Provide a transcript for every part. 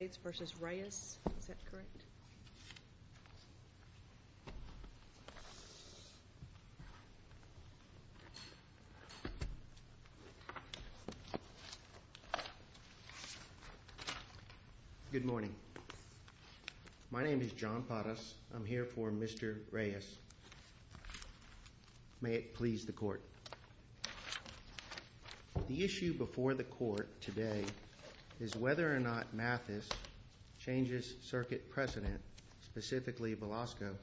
Good morning. My name is John Padas. I'm here for Mr. Reyes. May it please the court. The changes circuit precedent, specifically Velasco,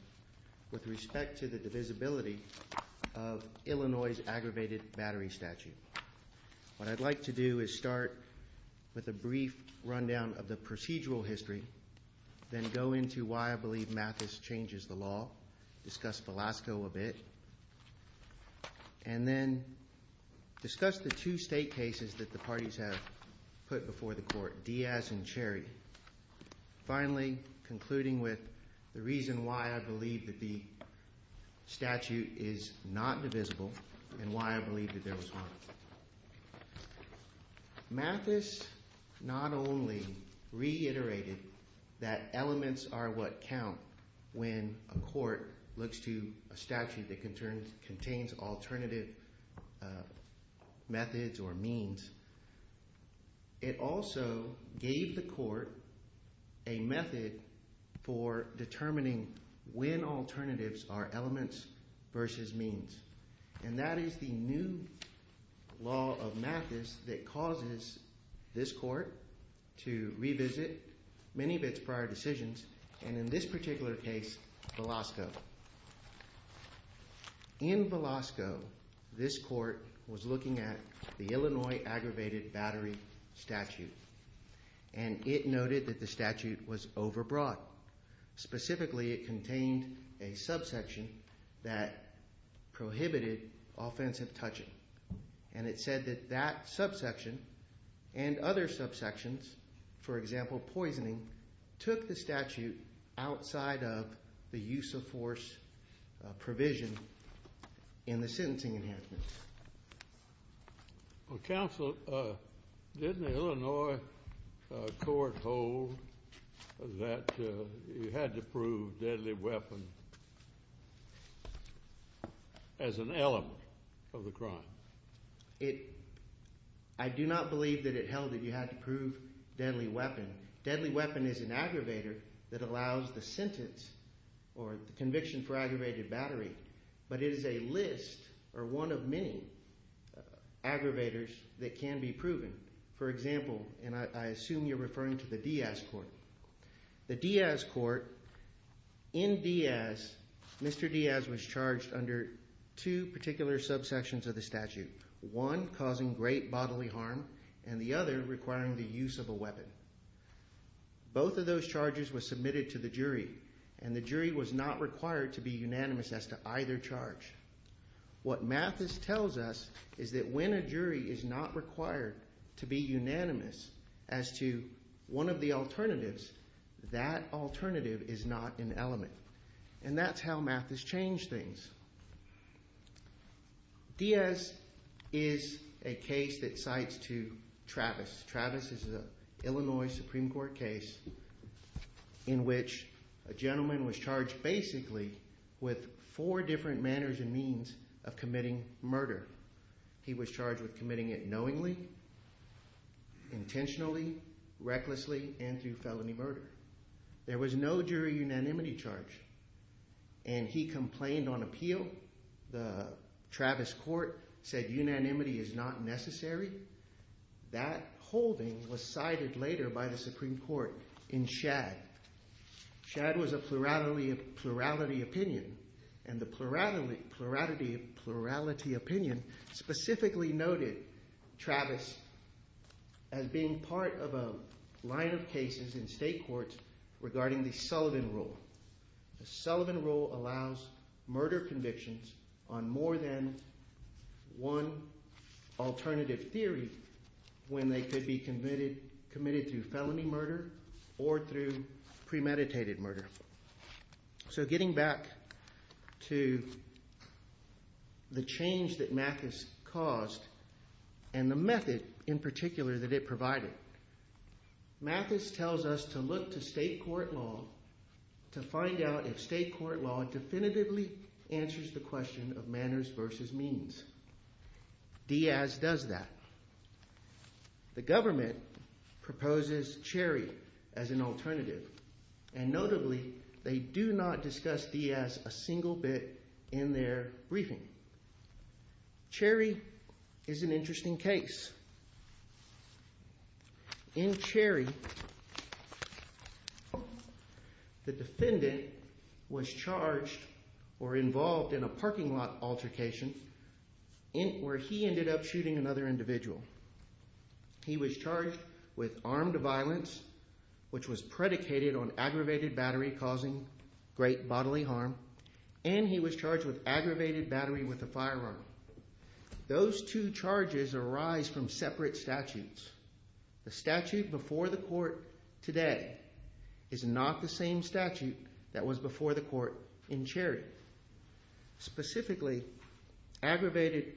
with respect to the divisibility of Illinois's aggravated battery statute. What I'd like to do is start with a brief rundown of the procedural history, then go into why I believe Mathis changes the law, discuss Velasco a bit, and then discuss the two state cases that the parties have put before the court, Diaz and Cherry. Finally, concluding with the reason why I believe that the statute is not divisible and why I believe that there was one. Mathis not only reiterated that elements are what count when a court looks to a statute that contains alternative methods or means, it also gave the court a method for determining when alternatives are elements versus means. And that is the new law of Mathis that causes this court to revisit many of its prior decisions, and in this particular case, Velasco. In Velasco, this court was looking at the Illinois aggravated battery statute, and it noted that the statute was overbrought. Specifically, it contained a subsection that prohibited offensive touching, and it said that that was a statute outside of the use of force provision in the sentencing enhancement. Well, counsel, didn't the Illinois court hold that you had to prove deadly weapon as an element of the crime? I do not believe that it held that you had to prove deadly weapon. Deadly weapon is an aggravator that allows the sentence or the conviction for aggravated battery, but it is a list or one of many aggravators that can be proven. For example, and I assume you're referring to the Diaz court. The Diaz court, in Diaz, Mr. Diaz was charged under two particular subsections of the statute, one causing great bodily harm and the other requiring the use of a weapon. Both of those charges were submitted to the jury, and the jury was not required to be unanimous as to either charge. What Mathis tells us is that when a jury is not required to be unanimous as to one of the alternatives, that alternative is not an element, and that's how Mathis changed things. Diaz is a case that cites to Travis Travis is an Illinois Supreme Court case in which a gentleman was charged basically with four different manners and means of committing murder. He was charged with committing it knowingly, intentionally, recklessly, and through felony murder. There was no jury unanimity charge, and he complained on appeal. The Travis court said unanimity is not necessary. That holding was cited later by the Supreme Court in Shad. Shad was a plurality opinion, and the plurality opinion specifically noted Travis as being part of a line of cases in state courts regarding the Sullivan rule. The Sullivan rule allows murder convictions on more than one alternative theory when they could be committed through felony murder or through premeditated murder. So getting back to the change that Mathis caused and the method in particular that it provided, Mathis tells us to look to state court law to find out if state court law definitively answers the question of manners versus means. Diaz does that. The government proposes Cherry as an alternative, and notably they do not discuss Diaz a single bit in their briefing. Cherry is an interesting case. In Cherry, the defendant was charged or involved in a parking lot altercation where he ended up shooting another individual. He was charged with armed violence, which was predicated on aggravated battery causing great bodily harm, and he was charged with aggravated battery with a firearm. Those two charges arise from separate statutes. The statute before the court today is not the same statute that was before the court in Cherry. Specifically, aggravated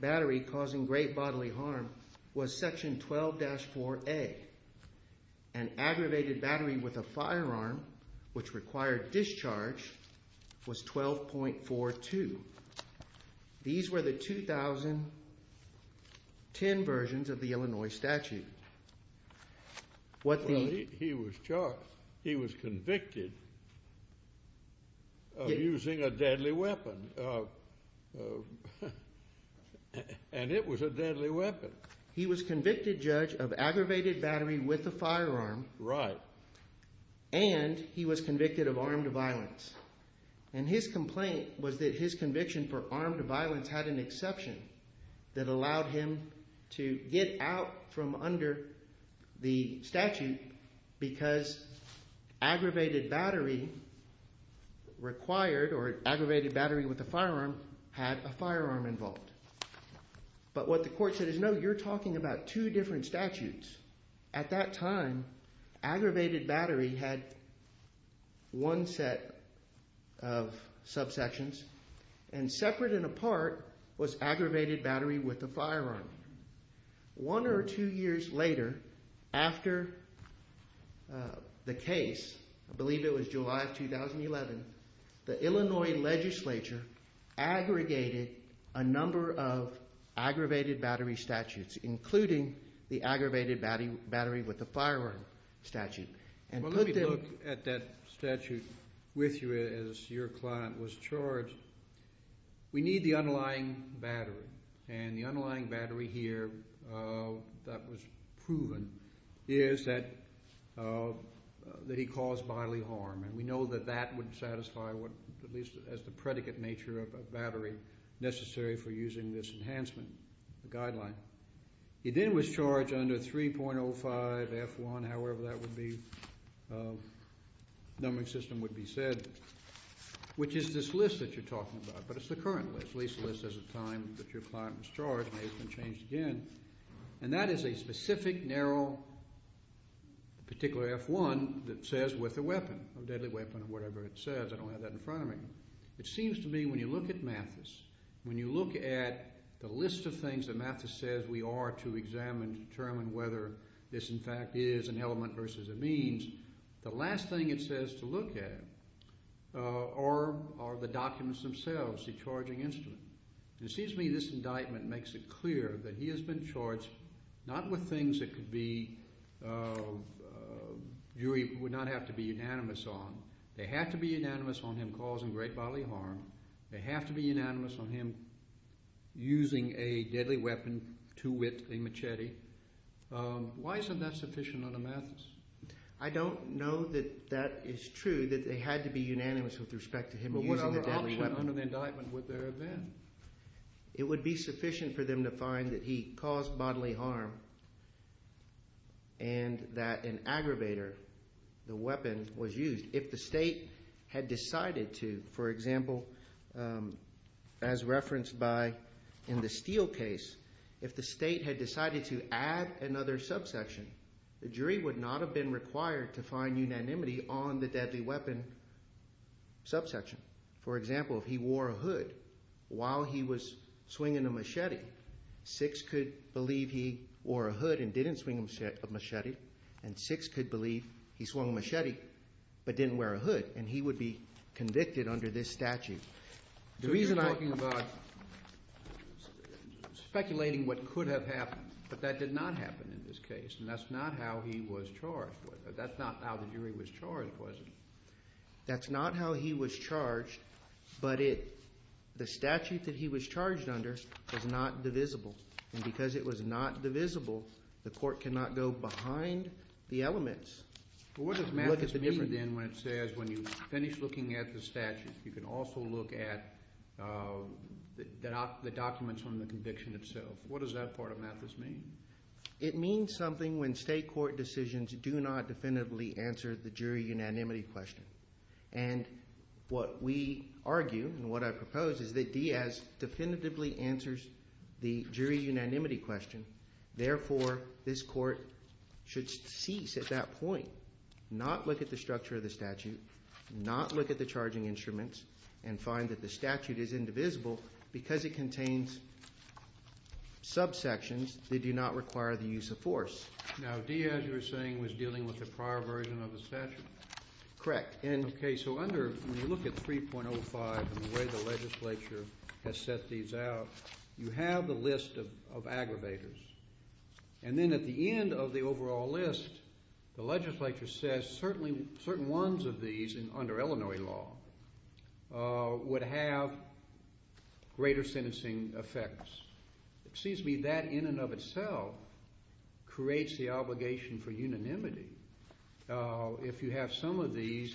battery causing great bodily harm was section 12-4A, and aggravated battery with a firearm, which required discharge, was 12.42. These were the 2010 versions of the Illinois statute. Well, he was convicted of using a deadly weapon, and it was a deadly weapon. He was convicted, Judge, of aggravated battery with a firearm, and he was convicted of armed violence, and his complaint was that his conviction for armed violence had an exception that allowed him to get out from under the statute because aggravated battery required, or aggravated battery with a firearm, had a firearm involved. But what the court said is, no, you're talking about two different statutes. At that time, aggravated battery had one set of subsections, and separate and apart was aggravated battery with a firearm. One or two years later, after the case, I believe it was July of 2011, the Illinois legislature aggregated a number of aggravated battery statutes, including the aggravated battery with a firearm statute. Well, let me look at that statute with you as your client was charged. We need the underlying battery, and the underlying battery here that was proven is that he caused bodily harm, and we know that that would satisfy what, at least as the predicate nature of a battery, necessary for using this enhancement guideline. He then was charged under 3.05 F1, however that would be, the numbering system would be said, which is this list that you're talking about, but it's the current list, at least the list at the time that your client was charged, may have been changed again, and that is a specific, narrow, particular F1 that says with a weapon, a deadly weapon, or whatever it says. I don't have that in front of me. It seems to me when you look at Mathis, when you look at the list of things that Mathis says we are to examine to determine whether this in fact is an element versus a means, the last thing it says to look at are the documents themselves, the charging instrument. It seems to me this indictment makes it clear that he has been charged not with things that jury would not have to be unanimous on. They have to be unanimous on him causing great bodily harm. They have to be unanimous on him using a deadly weapon, too wit, a machete. Why isn't that sufficient on a Mathis? I don't know that that is true, that they had to be unanimous with respect to him using a deadly weapon. What other option under the indictment would there have been? It would be sufficient for them to find that he caused bodily harm and that an aggravator, the weapon, was used. If the state had decided to, for example, as referenced by in the Steele case, if the state had decided to add another subsection, the jury would not have been required to find unanimity on the deadly weapon subsection. For example, if he wore a hood while he was swinging a machete, six could believe he wore a hood and didn't swing a machete, and six could believe he swung a machete. So you're talking about speculating what could have happened, but that did not happen in this case, and that's not how he was charged. That's not how the jury was charged, was it? That's not how he was charged, but the statute that he was charged under was not divisible, and because it was not divisible, the court cannot go behind the elements. Well, what does Mathis mean then when it says when you finish looking at the statute, you can also look at the documents on the conviction itself? What does that part of Mathis mean? It means something when state court decisions do not definitively answer the jury unanimity question, and what we argue and what I propose is that Diaz definitively answers the jury unanimity question. Therefore, this court should cease at that point, not look at the structure of the statute, not look at the charging instruments, and find that the statute is indivisible because it contains subsections that do not require the use of force. Now, Diaz, you were saying, was dealing with the prior version of the statute? Correct. Okay, so under, when you look at 3.05 and the way the legislature has set these out, you have the list of aggravators, and then at the end of the overall list, the legislature says certainly certain ones of these under Illinois law would have greater sentencing effects. It seems to me that in and of itself creates the obligation for unanimity if you have some of these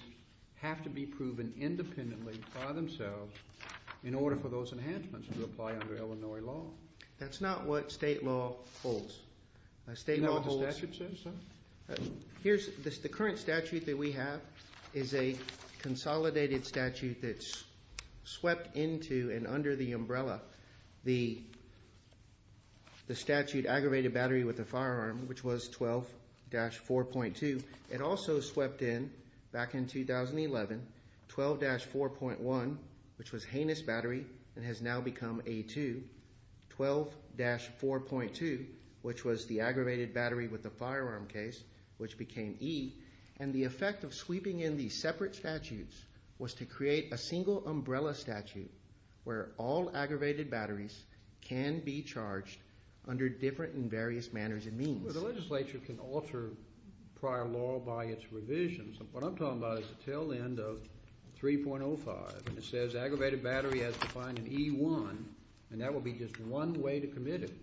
have to be proven independently by themselves in order for those enhancements to apply under Illinois law. That's not what state law holds. You know what the statute says, sir? Here's the current statute that we have is a consolidated statute that's swept into and under the umbrella the statute aggravated battery with a firearm, which was 12-4.2. It also swept in, back in 2011, 12-4.1, which was heinous battery and has now become A2, 12-4.2, which was the aggravated battery with the firearm case, which became E, and the effect of sweeping in these separate statutes was to create a single umbrella statute where all aggravated batteries can be charged under different and various manners and means. The legislature can alter prior law by its revisions. What I'm talking about is the tail end of 3.05, and it says aggravated battery as defined in E1, and that will be just one way to commit it.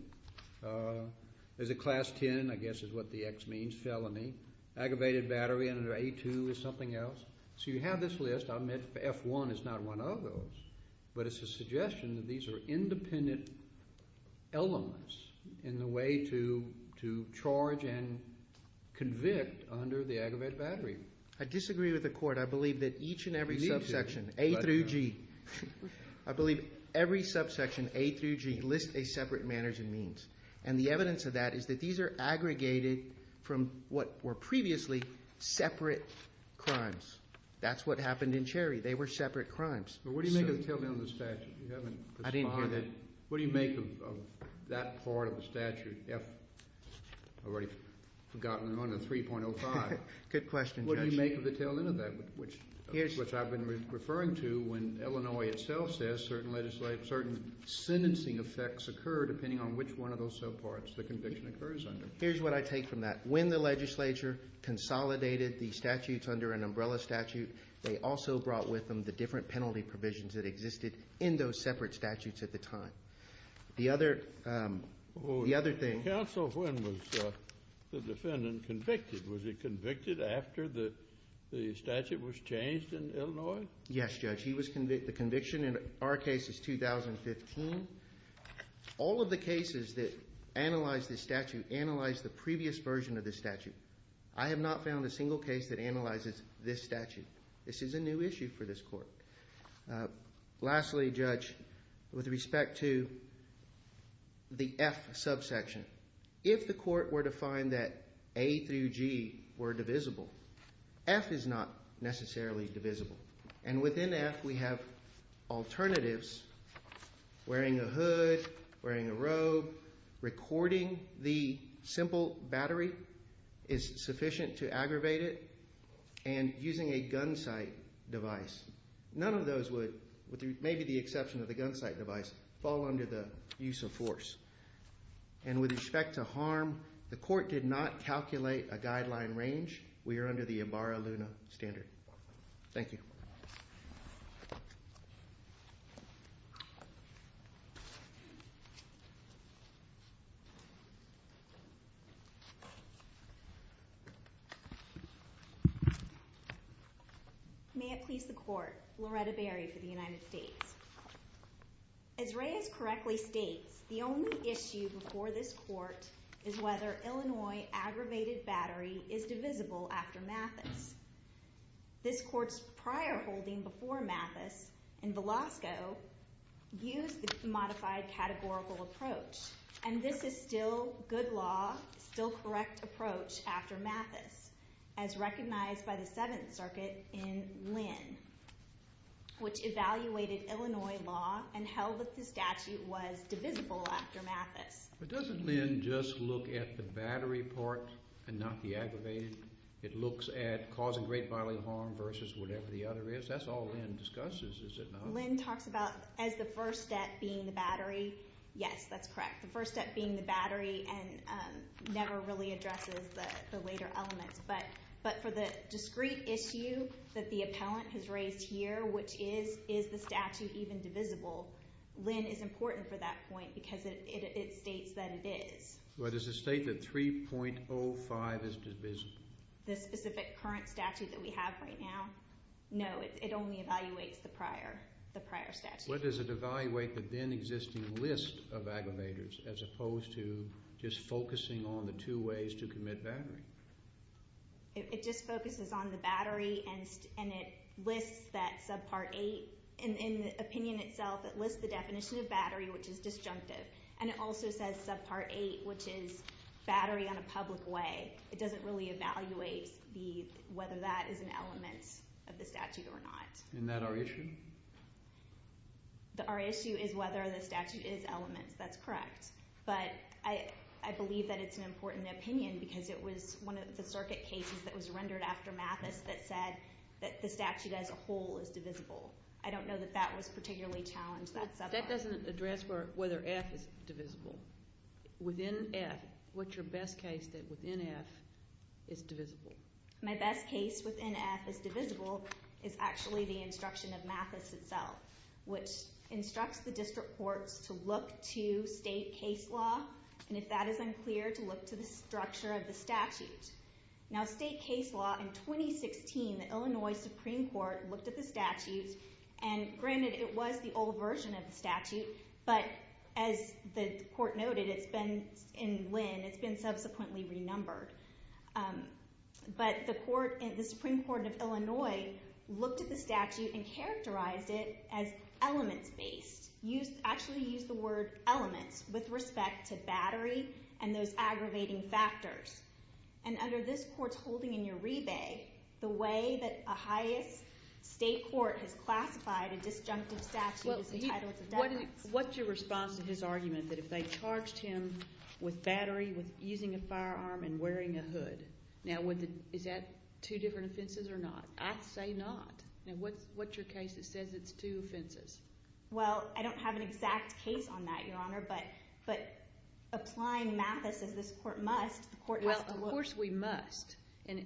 There's a class 10, I guess is what the X means, felony. Aggravated battery under A2 is something else. So you have this list. I'll admit F1 is not one of those, but it's a suggestion that these are independent elements in the way to charge and convict under the aggravated battery. I disagree with the Court. I believe that each and every subsection, A through G, I believe every subsection, A through G, lists a separate manners and means, and the evidence of that is that these are aggregated from what were previously separate crimes. That's what happened in Cherry. They were separate crimes. But what do you make of the tail end of the statute? You haven't responded. I didn't hear that. What do you make of that part of the statute, F, I've already forgotten, under 3.05? Good question, Judge. What do you make of the tail end of that, which I've been referring to when Illinois itself says certain sentencing effects occur depending on which one of those subparts the conviction occurs under? Here's what I take from that. When the legislature consolidated the statutes under an umbrella statute, they also brought with them the different penalty provisions that existed in those separate statutes at the time. The other thing... Counsel, when was the defendant convicted? Was he convicted after the statute was changed in Illinois? Yes, Judge. He was convicted. The conviction in our case is 2015. All of the cases that analyze the previous version of this statute, I have not found a single case that analyzes this statute. This is a new issue for this court. Lastly, Judge, with respect to the F subsection, if the court were to find that A through G were divisible, F is not necessarily divisible. And within F, we have alternatives, wearing a hood, wearing a robe, recording the simple battery is sufficient to aggravate it, and using a gun sight device. None of those would, with maybe the exception of the gun sight device, fall under the use of force. And with respect to harm, the court did not calculate a guideline range. We are under the Ibarra-Luna standard. Thank you. May it please the court, Loretta Berry for the United States. As Reyes correctly states, the only issue before this court is whether Illinois aggravated battery is divisible after Mathis. This court's prior holding before Mathis, in Velasco, used the modified categorical approach. And this is still good law, still correct approach after Mathis, as recognized by the Seventh Circuit in Lynn, which evaluated Illinois law and held that the statute was divisible after Mathis. But doesn't Lynn just look at the battery part and not the aggravated? It looks at causing great bodily harm versus whatever the other is? That's all Lynn discusses, is it not? Lynn talks about, as the first step being the battery, yes, that's correct. The first step being the battery and never really addresses the later elements. But for the discrete issue that the appellant has raised here, which is, is the statute even divisible? Lynn is important for that point because it states that it is. But does it state that 3.05 is divisible? The specific current statute that we have right now? No, it only evaluates the prior statute. But does it evaluate the then existing list of aggravators as opposed to just focusing on the two ways to commit battery? It just focuses on the battery and it lists that subpart 8. In the opinion itself, it lists the definition of battery, which is disjunctive. And it also says subpart 8, which is battery on a public way. It doesn't really evaluate whether that is an element of the statute or not. Isn't that our issue? Our issue is whether the statute is elements. That's correct. But I believe that it's an important opinion because it was one of the circuit cases that was rendered after Mathis that said that the statute as a whole is divisible. I don't know that that was particularly challenged that subpart. That doesn't address whether F is divisible. Within F, what's your best case that within F is divisible? My best case within F is divisible is actually the instruction of Mathis itself, which instructs the district courts to look to state case law. And if that is unclear, to look to the structure of the statute. Now, state case law in 2016, the Illinois Supreme Court looked at the statute. And granted, it was the old version of the statute. But as the court noted, it's been in Lynn. It's been subsequently renumbered. But the Supreme Court of Illinois looked at the statute and characterized it as elements-based. Actually used the word elements with respect to battery and those aggravating factors. And under this court's holding in the way that a highest state court has classified a disjunctive statute as a title of defense. What's your response to his argument that if they charged him with battery, with using a firearm, and wearing a hood? Now, is that two different offenses or not? I say not. Now, what's your case that says it's two offenses? Well, I don't have an exact case on that, Your Honor. But applying Mathis as this court must, the court has to look. Well, of course we must. And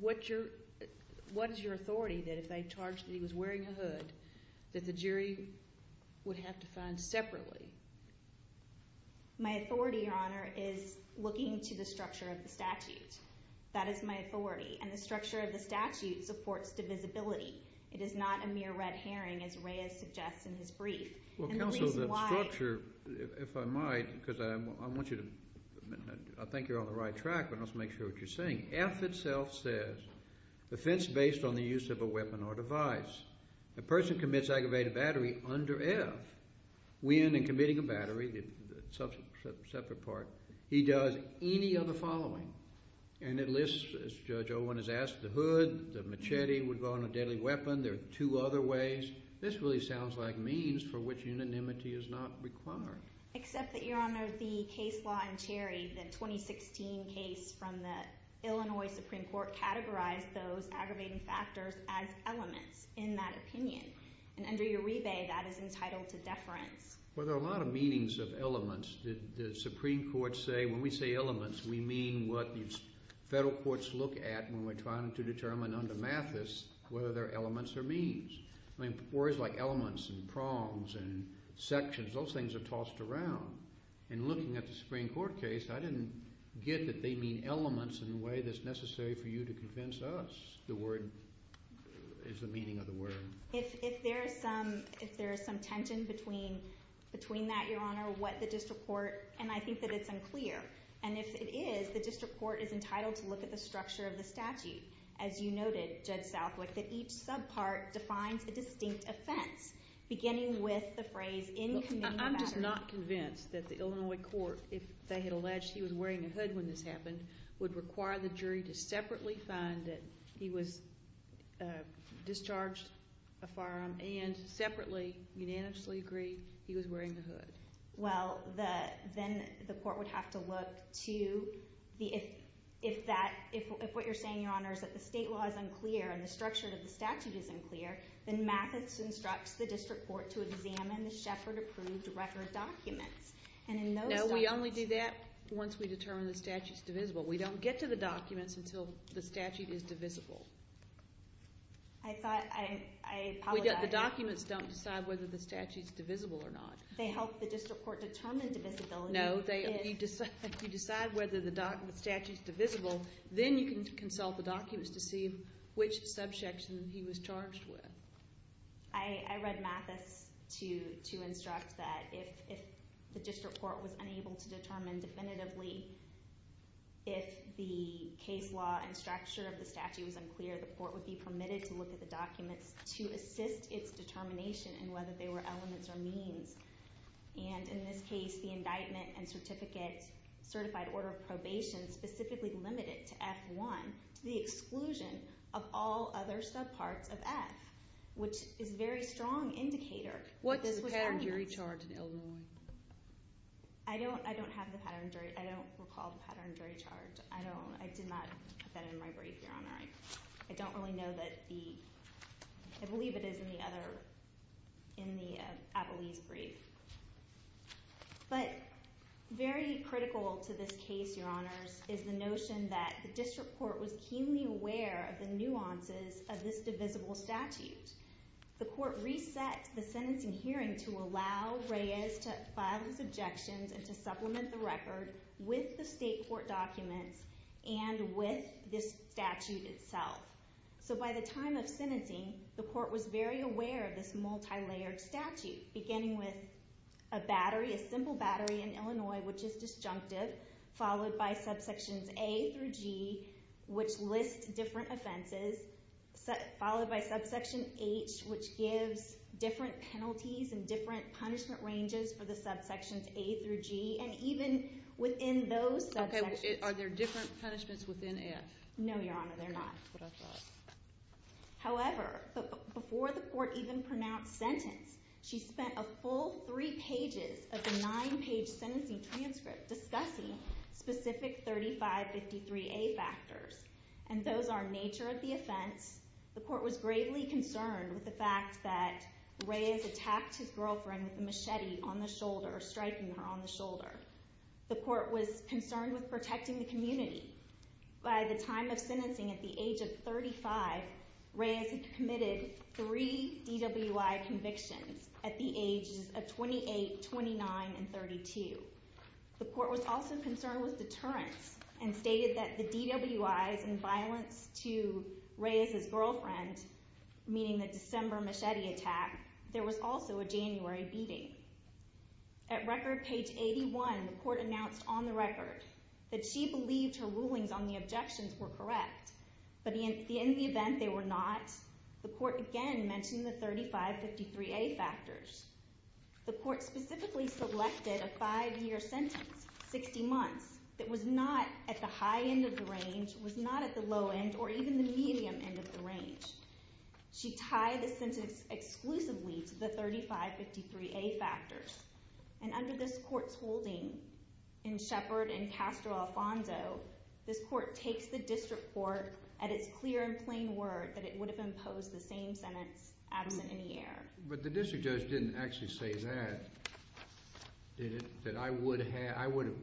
what is your authority that if they charged that he was wearing a hood, that the jury would have to find separately? My authority, Your Honor, is looking to the structure of the statute. That is my authority. And the structure of the statute supports divisibility. It is not a mere red herring, as Reyes suggests in his brief. Well, Counsel, the structure, if I might, because I want you to, I think you're on the right track, but let's make sure what you're saying. F itself says offense based on the use of a weapon or device. A person commits aggravated battery under F, when in committing a battery, the separate part, he does any other following. And it lists, as Judge Owen has asked, the hood, the machete would go on a deadly weapon. There are two other ways. This really sounds like means for which unanimity is not required. Except that, Your Honor, the case law in Cherry, the 2016 case from the Illinois Supreme Court categorized those aggravating factors as elements in that opinion. And under your rebate, that is entitled to deference. Well, there are a lot of meanings of elements. The Supreme Court say when we say elements, we mean what the federal courts look at when we're trying to determine under Mathis whether they're elements or means. I mean, words like elements and prongs and sections, those things are tossed around. And looking at the Supreme Court case, I didn't get that they mean elements in a way that's necessary for you to convince us the word is the meaning of the word. If there is some tension between that, Your Honor, what the district court, and I think that it's unclear, and if it is, the district court is entitled to look at the structure of the statute. As you noted, Judge Southwick, that each subpart defines a distinct offense, beginning with the phrase, in command of matter. I'm just not convinced that the Illinois court, if they had alleged he was wearing a hood when this happened, would require the jury to separately find that he was discharged a firearm and separately, unanimously agree, he was wearing a hood. Well, then the court would have to look to the, if that, if what you're saying, Your Honor, is that the state law is unclear and the structure of the statute is unclear, then Mathis instructs the district court to examine the Sheppard approved record documents. No, we only do that once we determine the statute's divisible. We don't get to the documents until the statute is divisible. I thought, I apologize. The documents don't decide whether the statute's divisible or not. They help the district court determine No, you decide whether the statute's divisible, then you can consult the documents to see which subsection he was charged with. I read Mathis to instruct that if the district court was unable to determine definitively if the case law and structure of the statute was unclear, the court would be permitted to look at the documents to assist its determination in whether they were elements or means. And in this case, the indictment and certificate, certified order of probation, specifically limited to F1, to the exclusion of all other subparts of F, which is a very strong indicator. What's the pattern jury charge in Illinois? I don't, I don't have the pattern jury, I don't recall the pattern jury charge. I don't, I did not put that in my brief, Your Honor. I don't really know that the, I believe it is in the other, in the Abilese brief. But very critical to this case, Your Honors, is the notion that the district court was keenly aware of the nuances of this divisible statute. The court reset the sentencing hearing to allow Reyes to file his objections and to supplement the record with the state court documents and with this statute itself. So by the time of sentencing, the court was very aware of this multi-layered statute, beginning with a battery, a simple battery in Illinois, which is disjunctive, followed by subsections A through G, which lists different offenses, followed by subsection H, which gives different penalties and different punishment ranges for the subsections A through G, and even within those subsections. Okay, are there different punishments within F? No, Your Honor, there are not. However, before the court even pronounced sentence, she spent a full three pages of the nine-page sentencing transcript discussing specific 3553A factors, and those are nature of the offense. The court was greatly concerned with the fact that Reyes attacked his girlfriend with a machete on the shoulder, striking her on the shoulder. The court was concerned with protecting the community. By the time of sentencing, at the age of 35, Reyes had committed three DWI convictions at the ages of 28, 29, and 32. The court was also concerned with deterrence and stated that the DWIs and violence to Reyes's girlfriend, meaning the December machete attack, there was also a January beating. At record page 81, the court announced on the record that she believed her rulings on the objections were correct, but in the event they were not, the court again mentioned the 3553A factors. The court specifically selected a five-year sentence, 60 months, that was not at the high end of the range, was not at the low end, or even the medium end of the range. She tied the sentence exclusively to the 3553A factors, and under this court's holding in Shepard and Castro Alfonso, this court takes the district court at its clear and plain word that it would have imposed the same sentence, adamant in the air. But the district judge didn't actually say that, did it? That I would have, I would,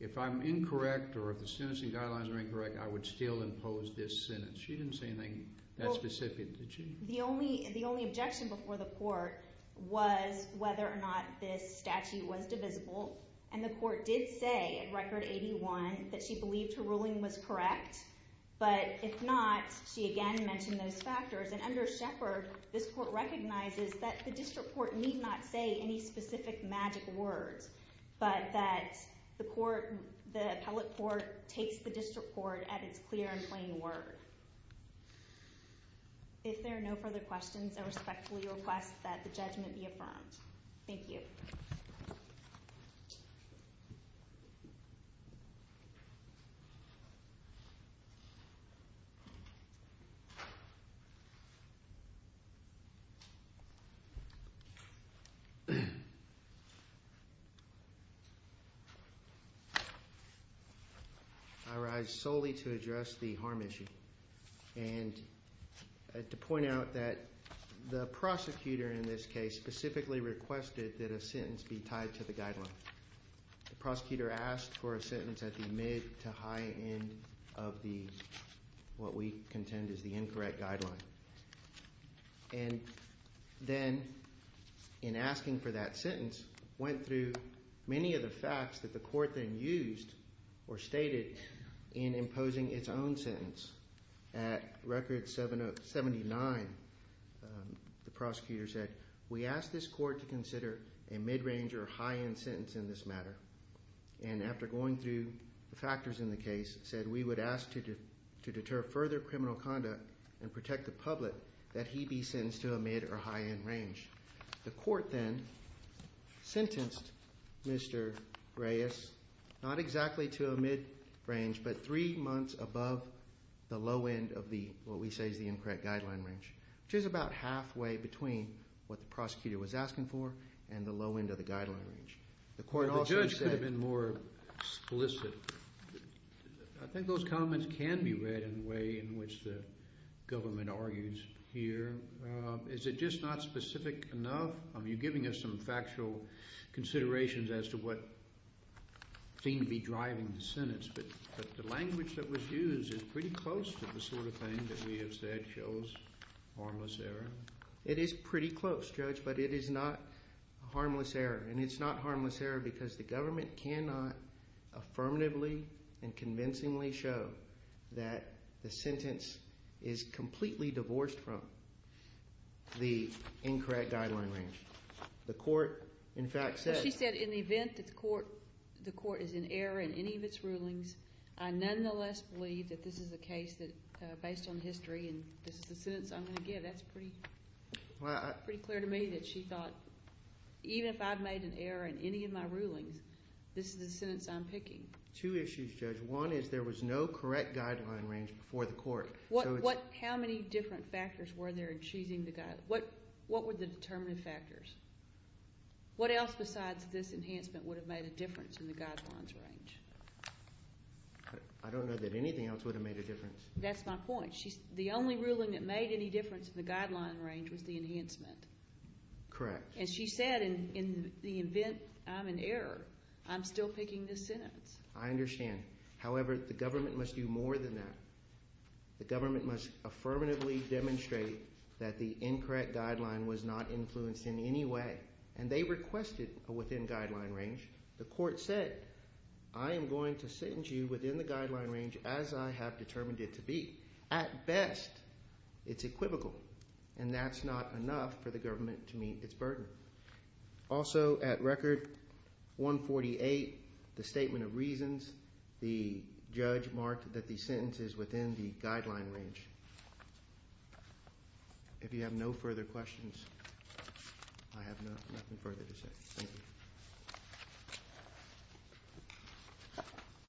if I'm incorrect or if the sentencing guidelines are incorrect, I would still impose this sentence. She didn't say anything that specific, did she? The only objection before the court was whether or not this statute was divisible, and the court did say at record 81 that she believed her ruling was correct, but if not, she again mentioned those factors. And under Shepard, this court recognizes that the district court need not say any specific magic words, but that the court, the appellate court, takes the district court at its clear and plain word. If there are no further questions, I respectfully request that the judgment be affirmed. Thank you. I rise solely to address the harm issue and to point out that the prosecutor in this case specifically requested that a sentence be tied to the guideline. The prosecutor asked for a sentence at the mid to high end of the, what we contend is the incorrect guideline. And then in asking for that sentence, went through many of the facts that the court then used or stated in imposing its own sentence. At record 79, the prosecutor said, we ask this court to consider a mid-range or high-end sentence in this matter. And after going through the factors in the case, said we would ask to deter further criminal conduct and protect the public, that he be sentenced to a mid or high-end range. The court then sentenced Mr. Reyes, not exactly to a mid-range, but three months above the low end of the, what we say is the incorrect guideline range, which is about halfway between what the prosecutor was asking for and the low end of the guideline range. The court also said. The judge could have been more explicit. I think those comments can be read in a way in which the government argues here. Is it just not specific enough? I mean, you're giving us some factual considerations as to what seemed to be driving the sentence, but the language that was used is pretty close to the sort of thing that we have said shows harmless error. It is pretty close judge, but it is not harmless error. And it's not harmless error because the government cannot affirmatively and convincingly show that the sentence is completely divorced from the incorrect guideline range. The court in fact said. She said in the event that the court is in error in any of its rulings, I nonetheless believe that this is a case that based on history and this is the sentence I'm going to give, that's pretty clear to me that she thought, even if I've made an error in any of my rulings, this is the sentence I'm picking. Two issues, judge. One is there was no correct guideline range before the court. How many different factors were there in choosing the, what were the determinative factors? What else besides this enhancement would have made a difference in the guidelines range? I don't know that anything else would have made a difference. That's my point. The only ruling that made any difference in the guideline range was the enhancement. Correct. And she said in the event I'm in error, I'm still picking this sentence. I understand. However, the government must do more than that. The government must affirmatively demonstrate that the incorrect guideline was not influenced in any way. And they requested a within guideline range. The court said, I am going to send you within the guideline range as I have determined it to be. At best, it's equivocal. And that's not enough for the government to meet its burden. Also, at record 148, the statement of reasons, the judge marked that the sentence is within the guideline range. If you have no further questions, I have nothing further to say. Thank you.